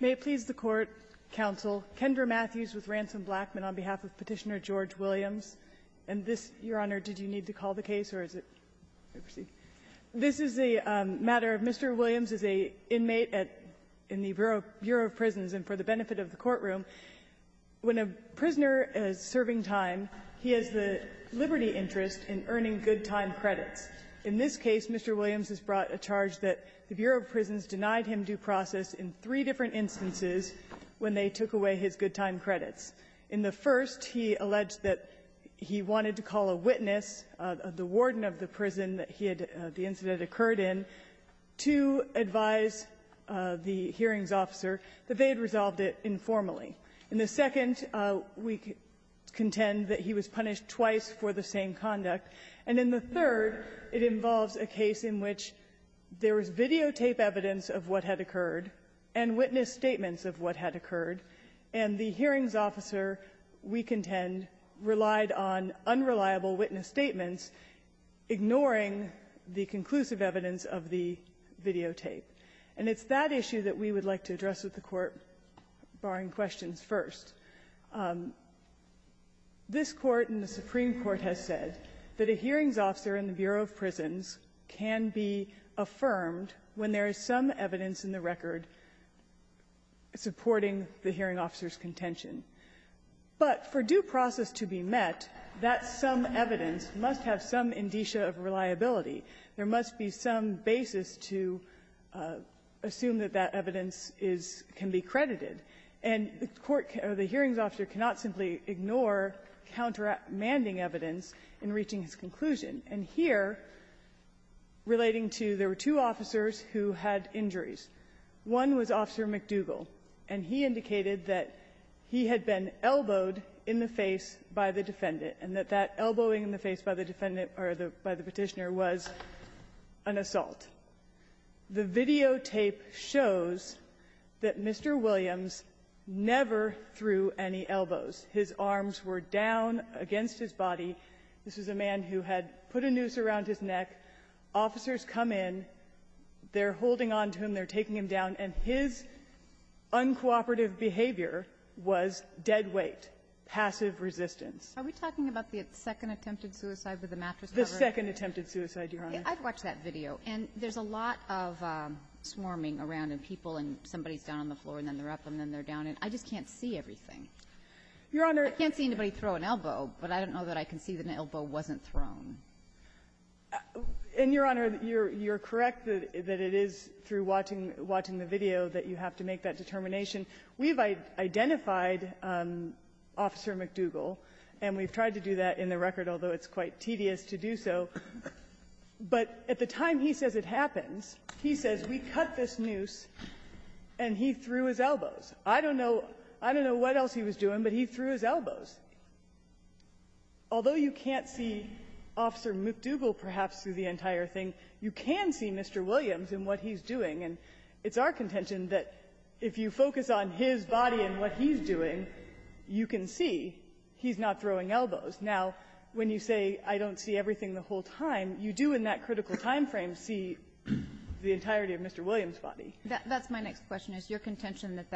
May it please the Court, Counsel, Kendra Matthews with Ransom Blackman on behalf of Petitioner George Williams. And this, Your Honor, did you need to call the case or is it... This is a matter of Mr. Williams as an inmate in the Bureau of Prisons and for the benefit of the courtroom. When a prisoner is serving time, he has the liberty interest in earning good time credits. In this case, Mr. Williams is brought a charge that the Bureau of Prisons denied him due process in three different instances when they took away his good time credits. In the first, he alleged that he wanted to call a witness, the warden of the prison that he had the incident occurred in, to advise the hearings officer that they had resolved it informally. In the second, we contend that he was punished twice for the same conduct. And in the third, it involves a case in which there was videotape evidence of what had occurred and witness statements of what had occurred, and the hearings officer, we contend, relied on unreliable witness statements, ignoring the conclusive evidence of the videotape. And it's that issue that we would like to address with the Court, barring questions first. This Court and the Supreme Court has said that a hearings officer in the Bureau of Prisons can be affirmed when there is some evidence in the record supporting the hearing officer's contention. But for due process to be met, that some evidence must have some indicia of reliability. There must be some basis to assume that that evidence is can be credited. And the court or the hearings officer cannot simply ignore countermanding evidence in reaching his conclusion. And here, relating to there were two officers who had injuries. One was Officer McDougall, and he indicated that he had been elbowed in the face by the defendant, and that that elbowing in the face by the defendant or the by the Petitioner was an assault. The videotape shows that Mr. Williams never threw any elbows. His arms were down against his body. This was a man who had put a noose around his neck. Officers come in. They're holding on to him. They're taking him down. And his uncooperative behavior was dead weight, passive resistance. Are we talking about the second attempted suicide with the mattress cover? The second attempted suicide, Your Honor. I've watched that video. And there's a lot of swarming around of people, and somebody's down on the floor, and then they're up, and then they're down. And I just can't see everything. I can't see anybody throw an elbow, but I don't know that I can see that an elbow wasn't thrown. And, Your Honor, you're correct that it is through watching the video that you have to make that determination. We've identified Officer McDougall, and we've tried to do that in the record, although it's quite tedious to do so. But at the time he says it happens, he says, we cut this noose, and he threw his elbow I don't know what else he was doing, but he threw his elbows. Although you can't see Officer McDougall, perhaps, through the entire thing, you can see Mr. Williams and what he's doing. And it's our contention that if you focus on his body and what he's doing, you can see he's not throwing elbows. Now, when you say I don't see everything the whole time, you do in that critical time frame see the entirety of Mr. Williams' body. That's my next question. Is your contention that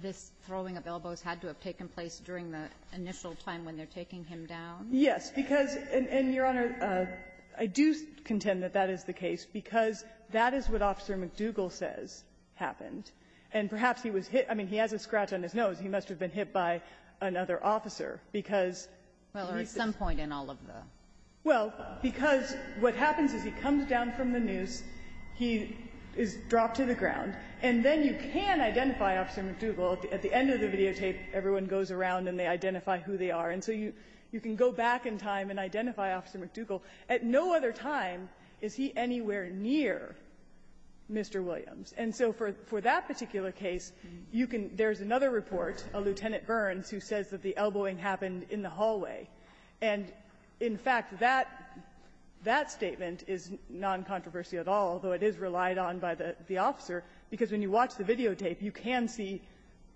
this throwing of elbows had to have taken place during the initial time when they're taking him down? Yes. Because, and, Your Honor, I do contend that that is the case, because that is what Officer McDougall says happened. And perhaps he was hit. I mean, he has a scratch on his nose. He must have been hit by another officer, because he's just ---- Well, at some point in all of the ---- Well, because what happens is he comes down from the noose. He is dropped to the ground. And then you can identify Officer McDougall. At the end of the videotape, everyone goes around and they identify who they are. And so you can go back in time and identify Officer McDougall. At no other time is he anywhere near Mr. Williams. And so for that particular case, you can ---- there's another report, a Lieutenant Burns, who says that the elbowing happened in the hallway. And, in fact, that statement is non-controversial at all, although it is relied on by the officer. Because when you watch the videotape, you can see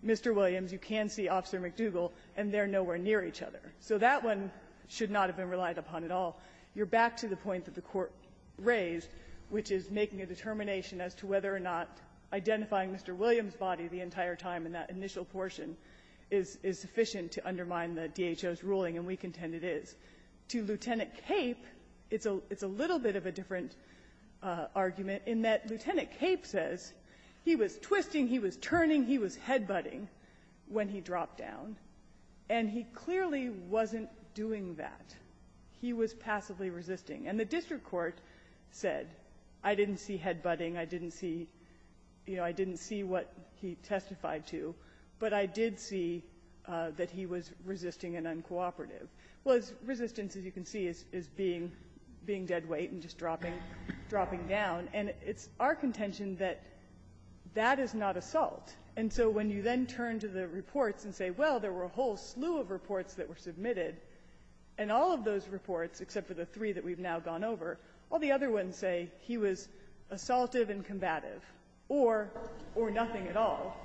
Mr. Williams, you can see Officer McDougall, and they're nowhere near each other. So that one should not have been relied upon at all. You're back to the point that the Court raised, which is making a determination as to whether or not identifying Mr. Williams' body the entire time in that initial portion is sufficient to undermine the DHO's ruling, and we contend it is. To Lieutenant Cape, it's a little bit of a different argument in that Lieutenant Cape says he was twisting, he was turning, he was headbutting when he dropped down, and he clearly wasn't doing that. He was passively resisting. And the district court said, I didn't see headbutting, I didn't see, you know, I didn't see what he testified to, but I did see that he was resisting and uncooperative. Well, resistance, as you can see, is being dead weight and just dropping down. And it's our contention that that is not assault. And so when you then turn to the reports and say, well, there were a whole slew of reports that were submitted, and all of those reports, except for the three that we've now gone over, all the other ones say he was assaultive and combative, or nothing at all.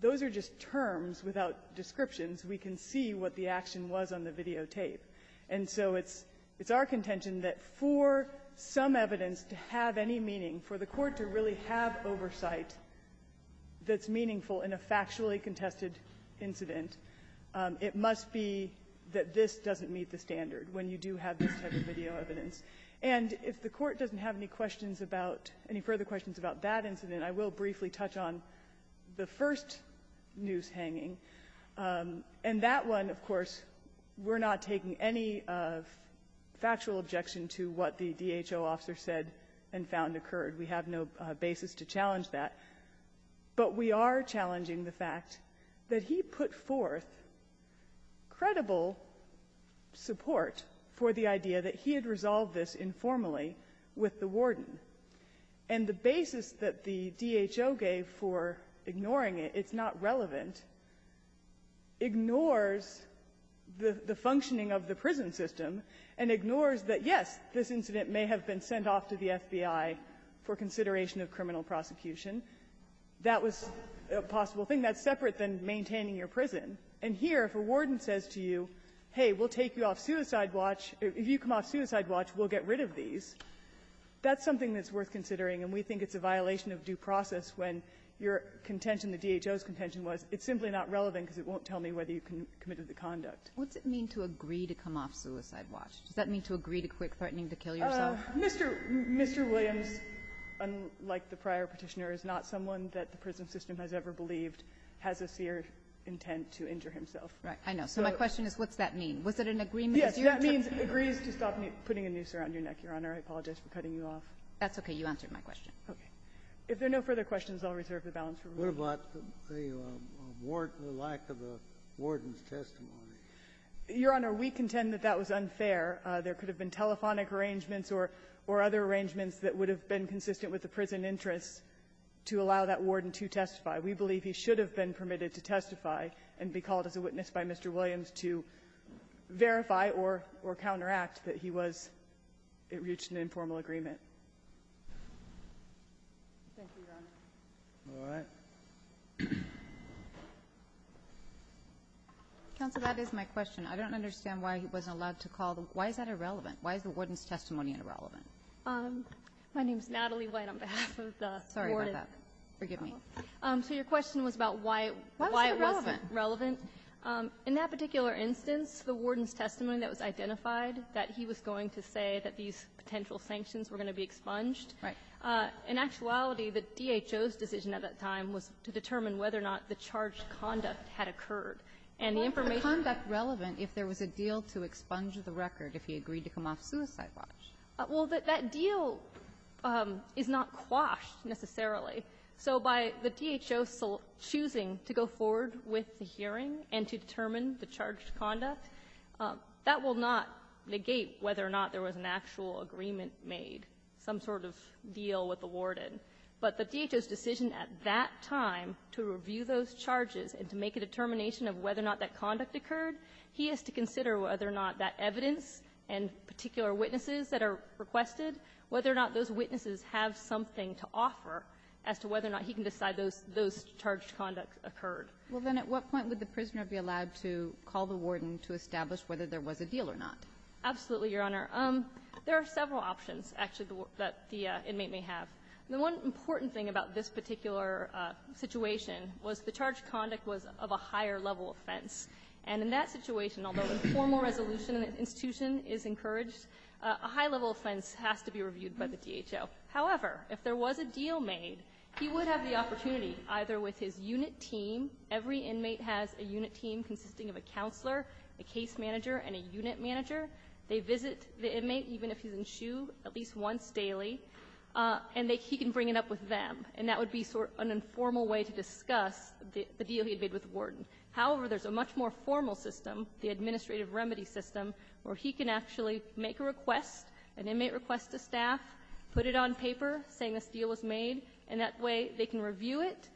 Those are just terms without descriptions. We can see what the action was on the videotape. And so it's our contention that for some evidence to have any meaning, for the Court to really have oversight that's meaningful in a factually contested incident, it must be that this doesn't meet the standard when you do have this type of video evidence. And if the Court doesn't have any questions about any further questions about that And that one, of course, we're not taking any factual objection to what the DHO officer said and found occurred. We have no basis to challenge that. But we are challenging the fact that he put forth credible support for the idea that he had resolved this informally with the warden. And the basis that the DHO gave for ignoring it, it's not relevant, ignores the functioning of the prison system and ignores that, yes, this incident may have been sent off to the FBI for consideration of criminal prosecution. That was a possible thing. That's separate than maintaining your prison. And here, if a warden says to you, hey, we'll take you off suicide watch. If you come off suicide watch, we'll get rid of these. That's something that's worth considering. And we think it's a violation of due process when your contention, the DHO's contention was, it's simply not relevant because it won't tell me whether you committed the conduct. Kagan. What's it mean to agree to come off suicide watch? Does that mean to agree to quick threatening to kill yourself? Mr. Williams, unlike the prior Petitioner, is not someone that the prison system has ever believed has a seer intent to injure himself. Right. I know. So my question is, what's that mean? Was it an agreement? Yes. That means it agrees to stop putting a noose around your neck, Your Honor. I apologize for cutting you off. That's okay. You answered my question. Okay. If there are no further questions, I'll reserve the balance for rebuttal. What about the warden, the lack of a warden's testimony? Your Honor, we contend that that was unfair. There could have been telephonic arrangements or other arrangements that would have been consistent with the prison interests to allow that warden to testify. We believe he should have been permitted to testify and be called as a witness by Mr. Williams to verify or counteract that he was at least in informal agreement. Thank you, Your Honor. All right. Counsel, that is my question. I don't understand why he wasn't allowed to call. Why is that irrelevant? Why is the warden's testimony irrelevant? My name is Natalie White on behalf of the warden. Sorry about that. Forgive me. So your question was about why it wasn't relevant. Why was it irrelevant? In that particular instance, the warden's testimony that was identified, that he was going to say that these potential sanctions were going to be expunged. Right. In actuality, the DHO's decision at that time was to determine whether or not the charged conduct had occurred. And the information that he was going to say was not relevant. Why was the conduct relevant if there was a deal to expunge the record if he agreed to come off suicide watch? Well, that deal is not quashed, necessarily. That will not negate whether or not there was an actual agreement made, some sort of deal with the warden. But the DHO's decision at that time to review those charges and to make a determination of whether or not that conduct occurred, he has to consider whether or not that evidence and particular witnesses that are requested, whether or not those witnesses have something to offer as to whether or not he can decide those charged conduct occurred. Well, then, at what point would the prisoner be allowed to call the warden to establish whether there was a deal or not? Absolutely, Your Honor. There are several options, actually, that the inmate may have. The one important thing about this particular situation was the charged conduct was of a higher-level offense. And in that situation, although informal resolution in the institution is encouraged, a high-level offense has to be reviewed by the DHO. However, if there was a deal made, he would have the opportunity, either with his unit team -- every inmate has a unit team consisting of a counselor, a case manager, and a unit manager. They visit the inmate, even if he's in SHU, at least once daily, and they can bring it up with them. And that would be sort of an informal way to discuss the deal he had made with the warden. However, there's a much more formal system, the administrative remedy system, where he can actually make a request, an inmate request to staff, put it on paper saying this deal was made, and that way they can review it.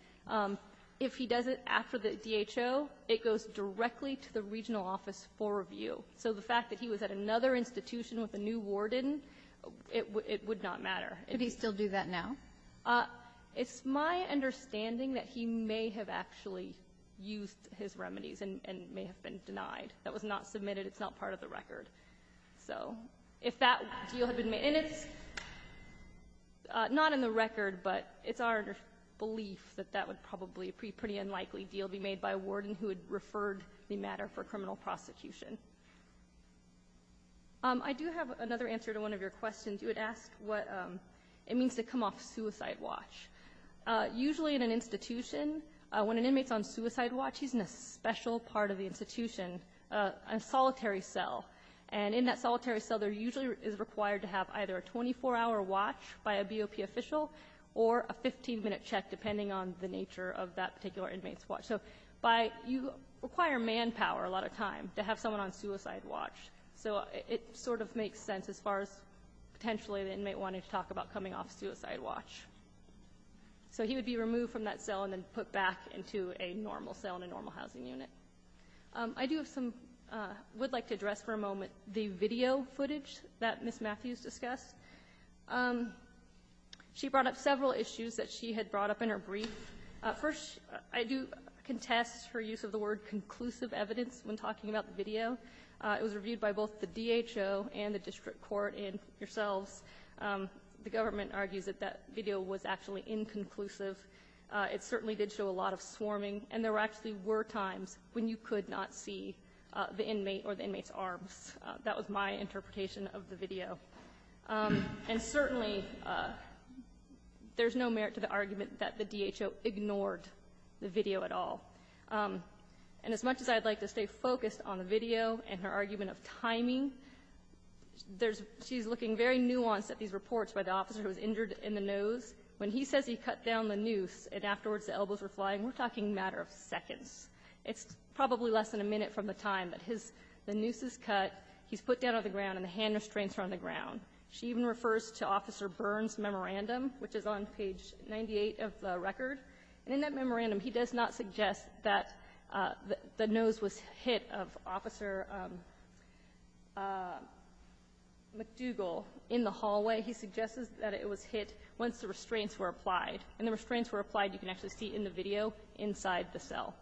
If he does it after the DHO, it goes directly to the regional office for review. So the fact that he was at another institution with a new warden, it would not matter. Kagan. Kagan. Could he still do that now? It's my understanding that he may have actually used his remedies and may have been denied. That was not submitted. It's not part of the record. So if that deal had been made -- and it's not in the record, but it's our belief that that would probably be a pretty unlikely deal be made by a warden who had referred the matter for criminal prosecution. I do have another answer to one of your questions. You had asked what it means to come off suicide watch. Usually in an institution, when an inmate's on suicide watch, he's in a special part of the institution, a solitary cell. And in that solitary cell, there usually is required to have either a 24-hour watch by a BOP official or a 15-minute check, depending on the nature of that particular inmate's watch. So by you require manpower a lot of time to have someone on suicide watch. So it sort of makes sense as far as potentially the inmate wanted to talk about coming off suicide watch. So he would be removed from that cell and then put back into a normal cell in a normal housing unit. I do have some -- would like to address for a moment the video footage that Ms. She brought up several issues that she had brought up in her brief. First, I do contest her use of the word conclusive evidence when talking about the video. It was reviewed by both the DHO and the district court and yourselves. The government argues that that video was actually inconclusive. It certainly did show a lot of swarming. And there actually were times when you could not see the inmate or the inmate's arms. That was my interpretation of the video. And certainly, there's no merit to the argument that the DHO ignored the video at all. And as much as I'd like to stay focused on the video and her argument of timing, there's -- she's looking very nuanced at these reports by the officer who was injured in the nose. When he says he cut down the noose and afterwards the elbows were flying, we're talking a matter of seconds. It's probably less than a minute from the time that his -- the noose is cut, he's put down on the ground and the hand restraints are on the ground. She even refers to Officer Byrne's memorandum, which is on page 98 of the record. And in that memorandum, he does not suggest that the noose was hit of Officer McDougall in the hallway. He suggests that it was hit once the restraints were applied. And the restraints were applied, you can actually see in the video, inside the cell.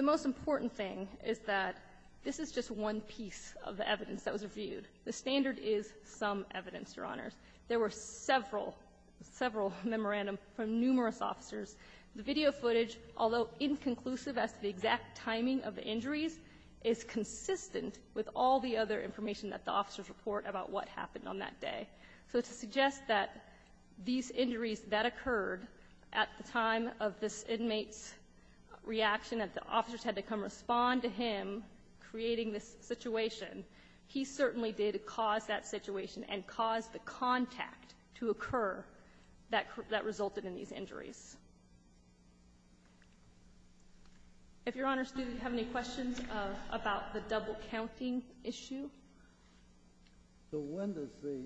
The most important thing is that this is just one piece of evidence that was reviewed. The standard is some evidence, Your Honors. There were several, several memorandums from numerous officers. The video footage, although inconclusive as to the exact timing of the injuries, is consistent with all the other information that the officers report about what happened on that day. So to suggest that these injuries that occurred at the time of this inmate's reaction, that the officers had to come respond to him creating this situation, he certainly did cause that situation and cause the contact to occur that resulted in these injuries. If Your Honors do have any questions about the double-counting issue? So when does the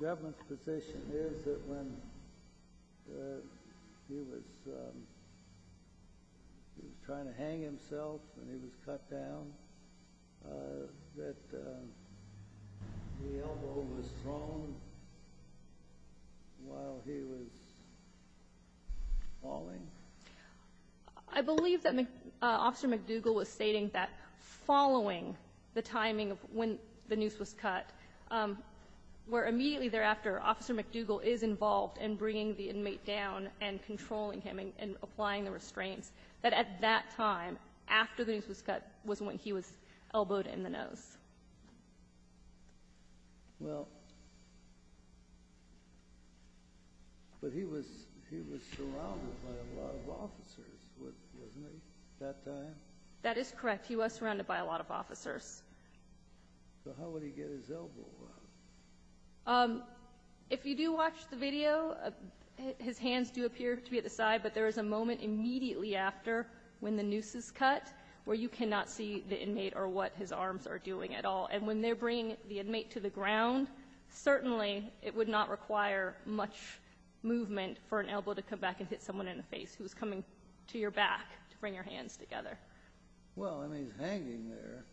government's position is that when he was trying to hang himself and he was cut down, that the elbow was thrown while he was falling? I believe that Officer McDougall was stating that following the timing of when the noose was cut, where immediately thereafter, Officer McDougall is involved in bringing the inmate down and controlling him and applying the restraints, that at that time, after the noose was cut, was when he was elbowed in the nose. Well, but he was surrounded by a lot of officers, wasn't he, that time? That is correct. He was surrounded by a lot of officers. So how would he get his elbow up? If you do watch the video, his hands do appear to be at the side, but there is a moment immediately after when the noose is cut where you cannot see the inmate or what his arms are doing at all. And when they're bringing the inmate to the ground, certainly it would not require much movement for an elbow to come back and hit someone in the face who's coming to your back to bring your hands together. Well, and he's hanging there.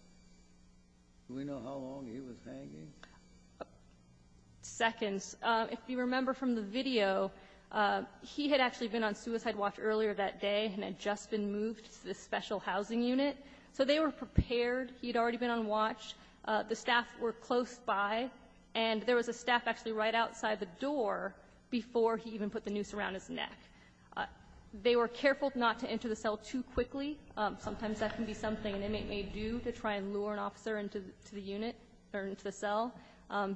Do we know how long he was hanging? Seconds. If you remember from the video, he had actually been on suicide watch earlier that day and had just been moved to the special housing unit. So they were prepared. He had already been on watch. The staff were close by. And there was a staff actually right outside the door before he even put the noose around his neck. They were careful not to enter the cell too quickly. Sometimes that can be something an inmate may do, to try and lure an officer into the unit or into the cell.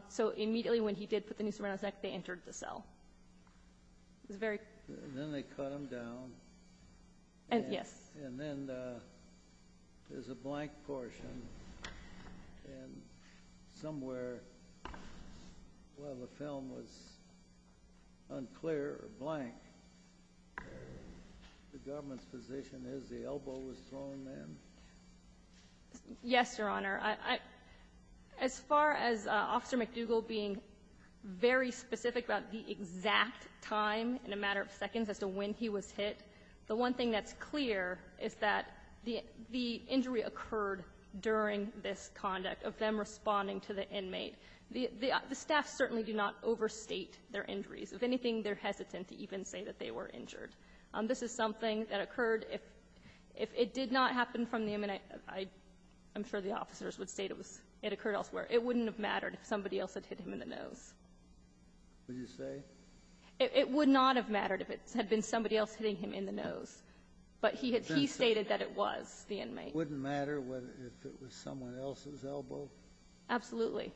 So immediately when he did put the noose around his neck, they entered the cell. It was very quick. And then they cut him down. Yes. And then there's a blank portion. And somewhere while the film was unclear or blank, the government's position is the elbow was thrown in? Yes, Your Honor. As far as Officer McDougall being very specific about the exact time in a matter of seconds as to when he was hit, the one thing that's clear is that the injury occurred during this conduct of them responding to the inmate. The staff certainly do not overstate their injuries. If anything, they're hesitant to even say that they were injured. This is something that occurred if it did not happen from the inmate. I'm sure the officers would state it occurred elsewhere. It wouldn't have mattered if somebody else had hit him in the nose. Would you say? It would not have mattered if it had been somebody else hitting him in the nose. But he had he stated that it was the inmate. It wouldn't matter if it was someone else's elbow? Absolutely.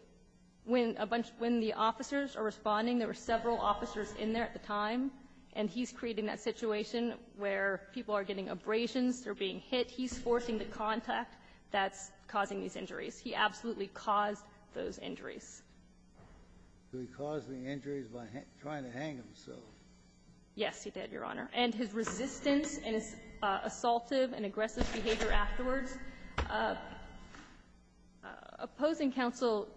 When a bunch of the officers are responding, there were several officers in there at the time, and he's creating that situation where people are getting abrasions, they're being hit. He's forcing the contact that's causing these injuries. He absolutely caused those injuries. Did he cause the injuries by trying to hang himself? Yes, he did, Your Honor. And his resistance and his assaultive and aggressive behavior afterwards. Opposing counsel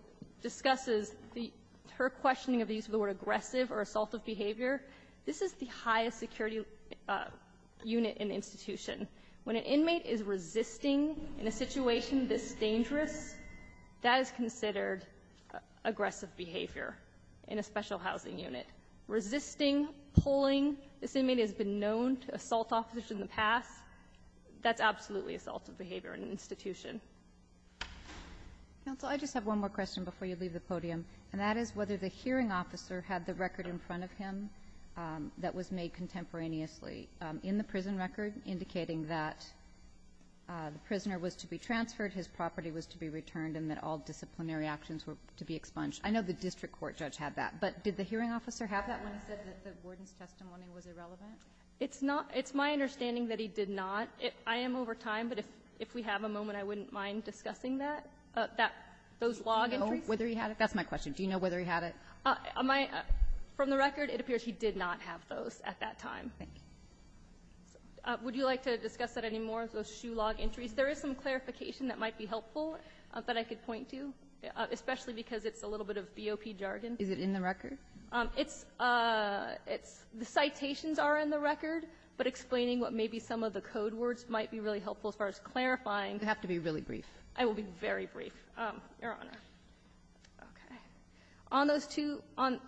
discusses the her questioning of the use of the word aggressive or assaultive behavior. This is the highest security unit in the institution. When an inmate is resisting in a situation this dangerous, that is considered aggressive behavior in a special housing unit. Resisting, pulling. This inmate has been known to assault officers in the past. That's absolutely assaultive behavior in an institution. Counsel, I just have one more question before you leave the podium, and that is whether the hearing officer had the record in front of him that was made contemporaneously in the prison record indicating that the prisoner was to be transferred, his property was to be returned, and that all disciplinary actions were to be expunged. I know the district court judge had that, but did the hearing officer have that when he said that the warden's testimony was irrelevant? It's not. It's my understanding that he did not. I am over time, but if we have a moment, I wouldn't mind discussing that, those log entries. Do you know whether he had it? That's my question. Do you know whether he had it? From the record, it appears he did not have those at that time. Thank you. Would you like to discuss that anymore, those shoe log entries? There is some clarification that might be helpful that I could point to, especially because it's a little bit of BOP jargon. Is it in the record? It's the citations are in the record, but explaining what may be some of the code words might be really helpful as far as clarifying. You have to be really brief. I will be very brief, Your Honor. Okay. On those two, on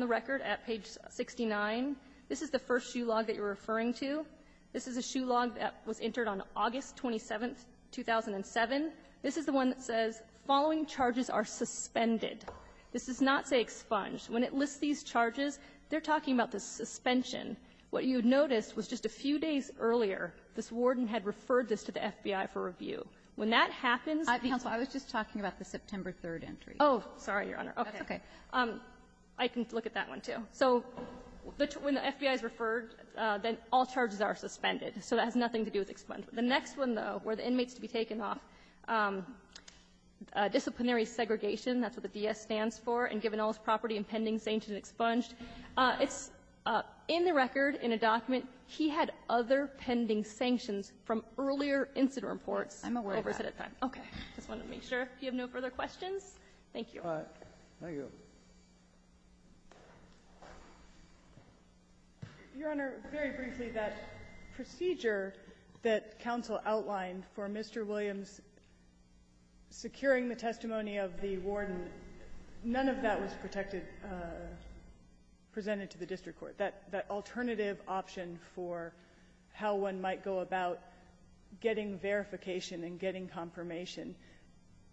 the record at page 69, this is the first shoe log that you're referring to. This is a shoe log that was entered on August 27th, 2007. This is the one that says, following charges are suspended. This does not say expunged. When it lists these charges, they're talking about the suspension. What you noticed was just a few days earlier, this warden had referred this to the When that happens the entry was referred to the FBI for review. Counsel, I was just talking about the September 3rd entry. Oh, sorry, Your Honor. That's okay. I can look at that one, too. So when the FBI is referred, then all charges are suspended. So that has nothing to do with expunged. The next one, though, where the inmates to be taken off, disciplinary segregation. That's what the D.S. stands for. And given all his property and pending sanctions and expunged. It's in the record, in a document, he had other pending sanctions from earlier incident reports over a set of time. I'm aware of that. Okay. I just wanted to make sure. If you have no further questions, thank you. All right. Thank you. Your Honor, very briefly, that procedure that counsel outlined for Mr. Williams securing the testimony of the warden, none of that was protected, presented to the district court, that alternative option for how one might go about getting verification and getting confirmation.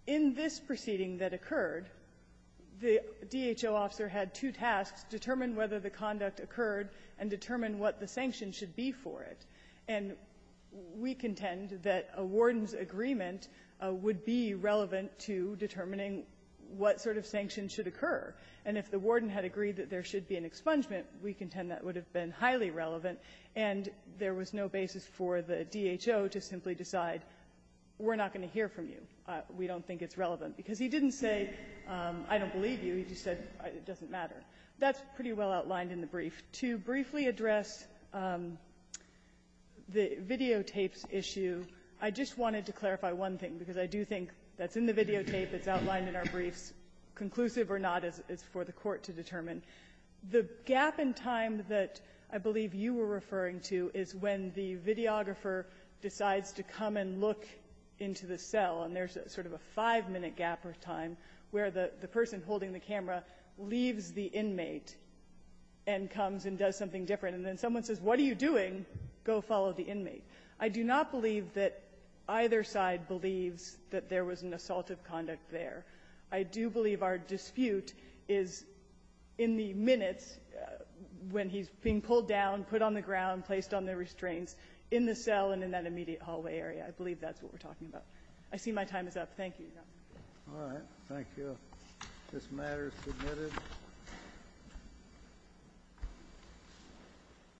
In this proceeding that occurred, the DHO officer had two tasks, determine whether the conduct occurred and determine what the sanctions should be for it. And we contend that a warden's agreement would be relevant to determining what sort of sanctions should occur. And if the warden had agreed that there should be an expungement, we contend that would have been highly relevant, and there was no basis for the DHO to simply decide, we're not going to hear from you. We don't think it's relevant. Because he didn't say, I don't believe you. He just said, it doesn't matter. That's pretty well outlined in the brief. To briefly address the videotapes issue, I just wanted to clarify one thing, because I do think that's in the videotape, it's outlined in our briefs, conclusive or not is for the Court to determine. The gap in time that I believe you were referring to is when the videographer decides to come and look into the cell, and there's sort of a five-minute gap of time where the person holding the camera leaves the inmate and comes and does something different. And then someone says, what are you doing? Go follow the inmate. I do not believe that either side believes that there was an assault of conduct there. I do believe our dispute is in the minutes when he's being pulled down, put on the restraints in the cell and in that immediate hallway area. I believe that's what we're talking about. I see my time is up. Thank you, Your Honor. All right. Thank you. This matter is submitted.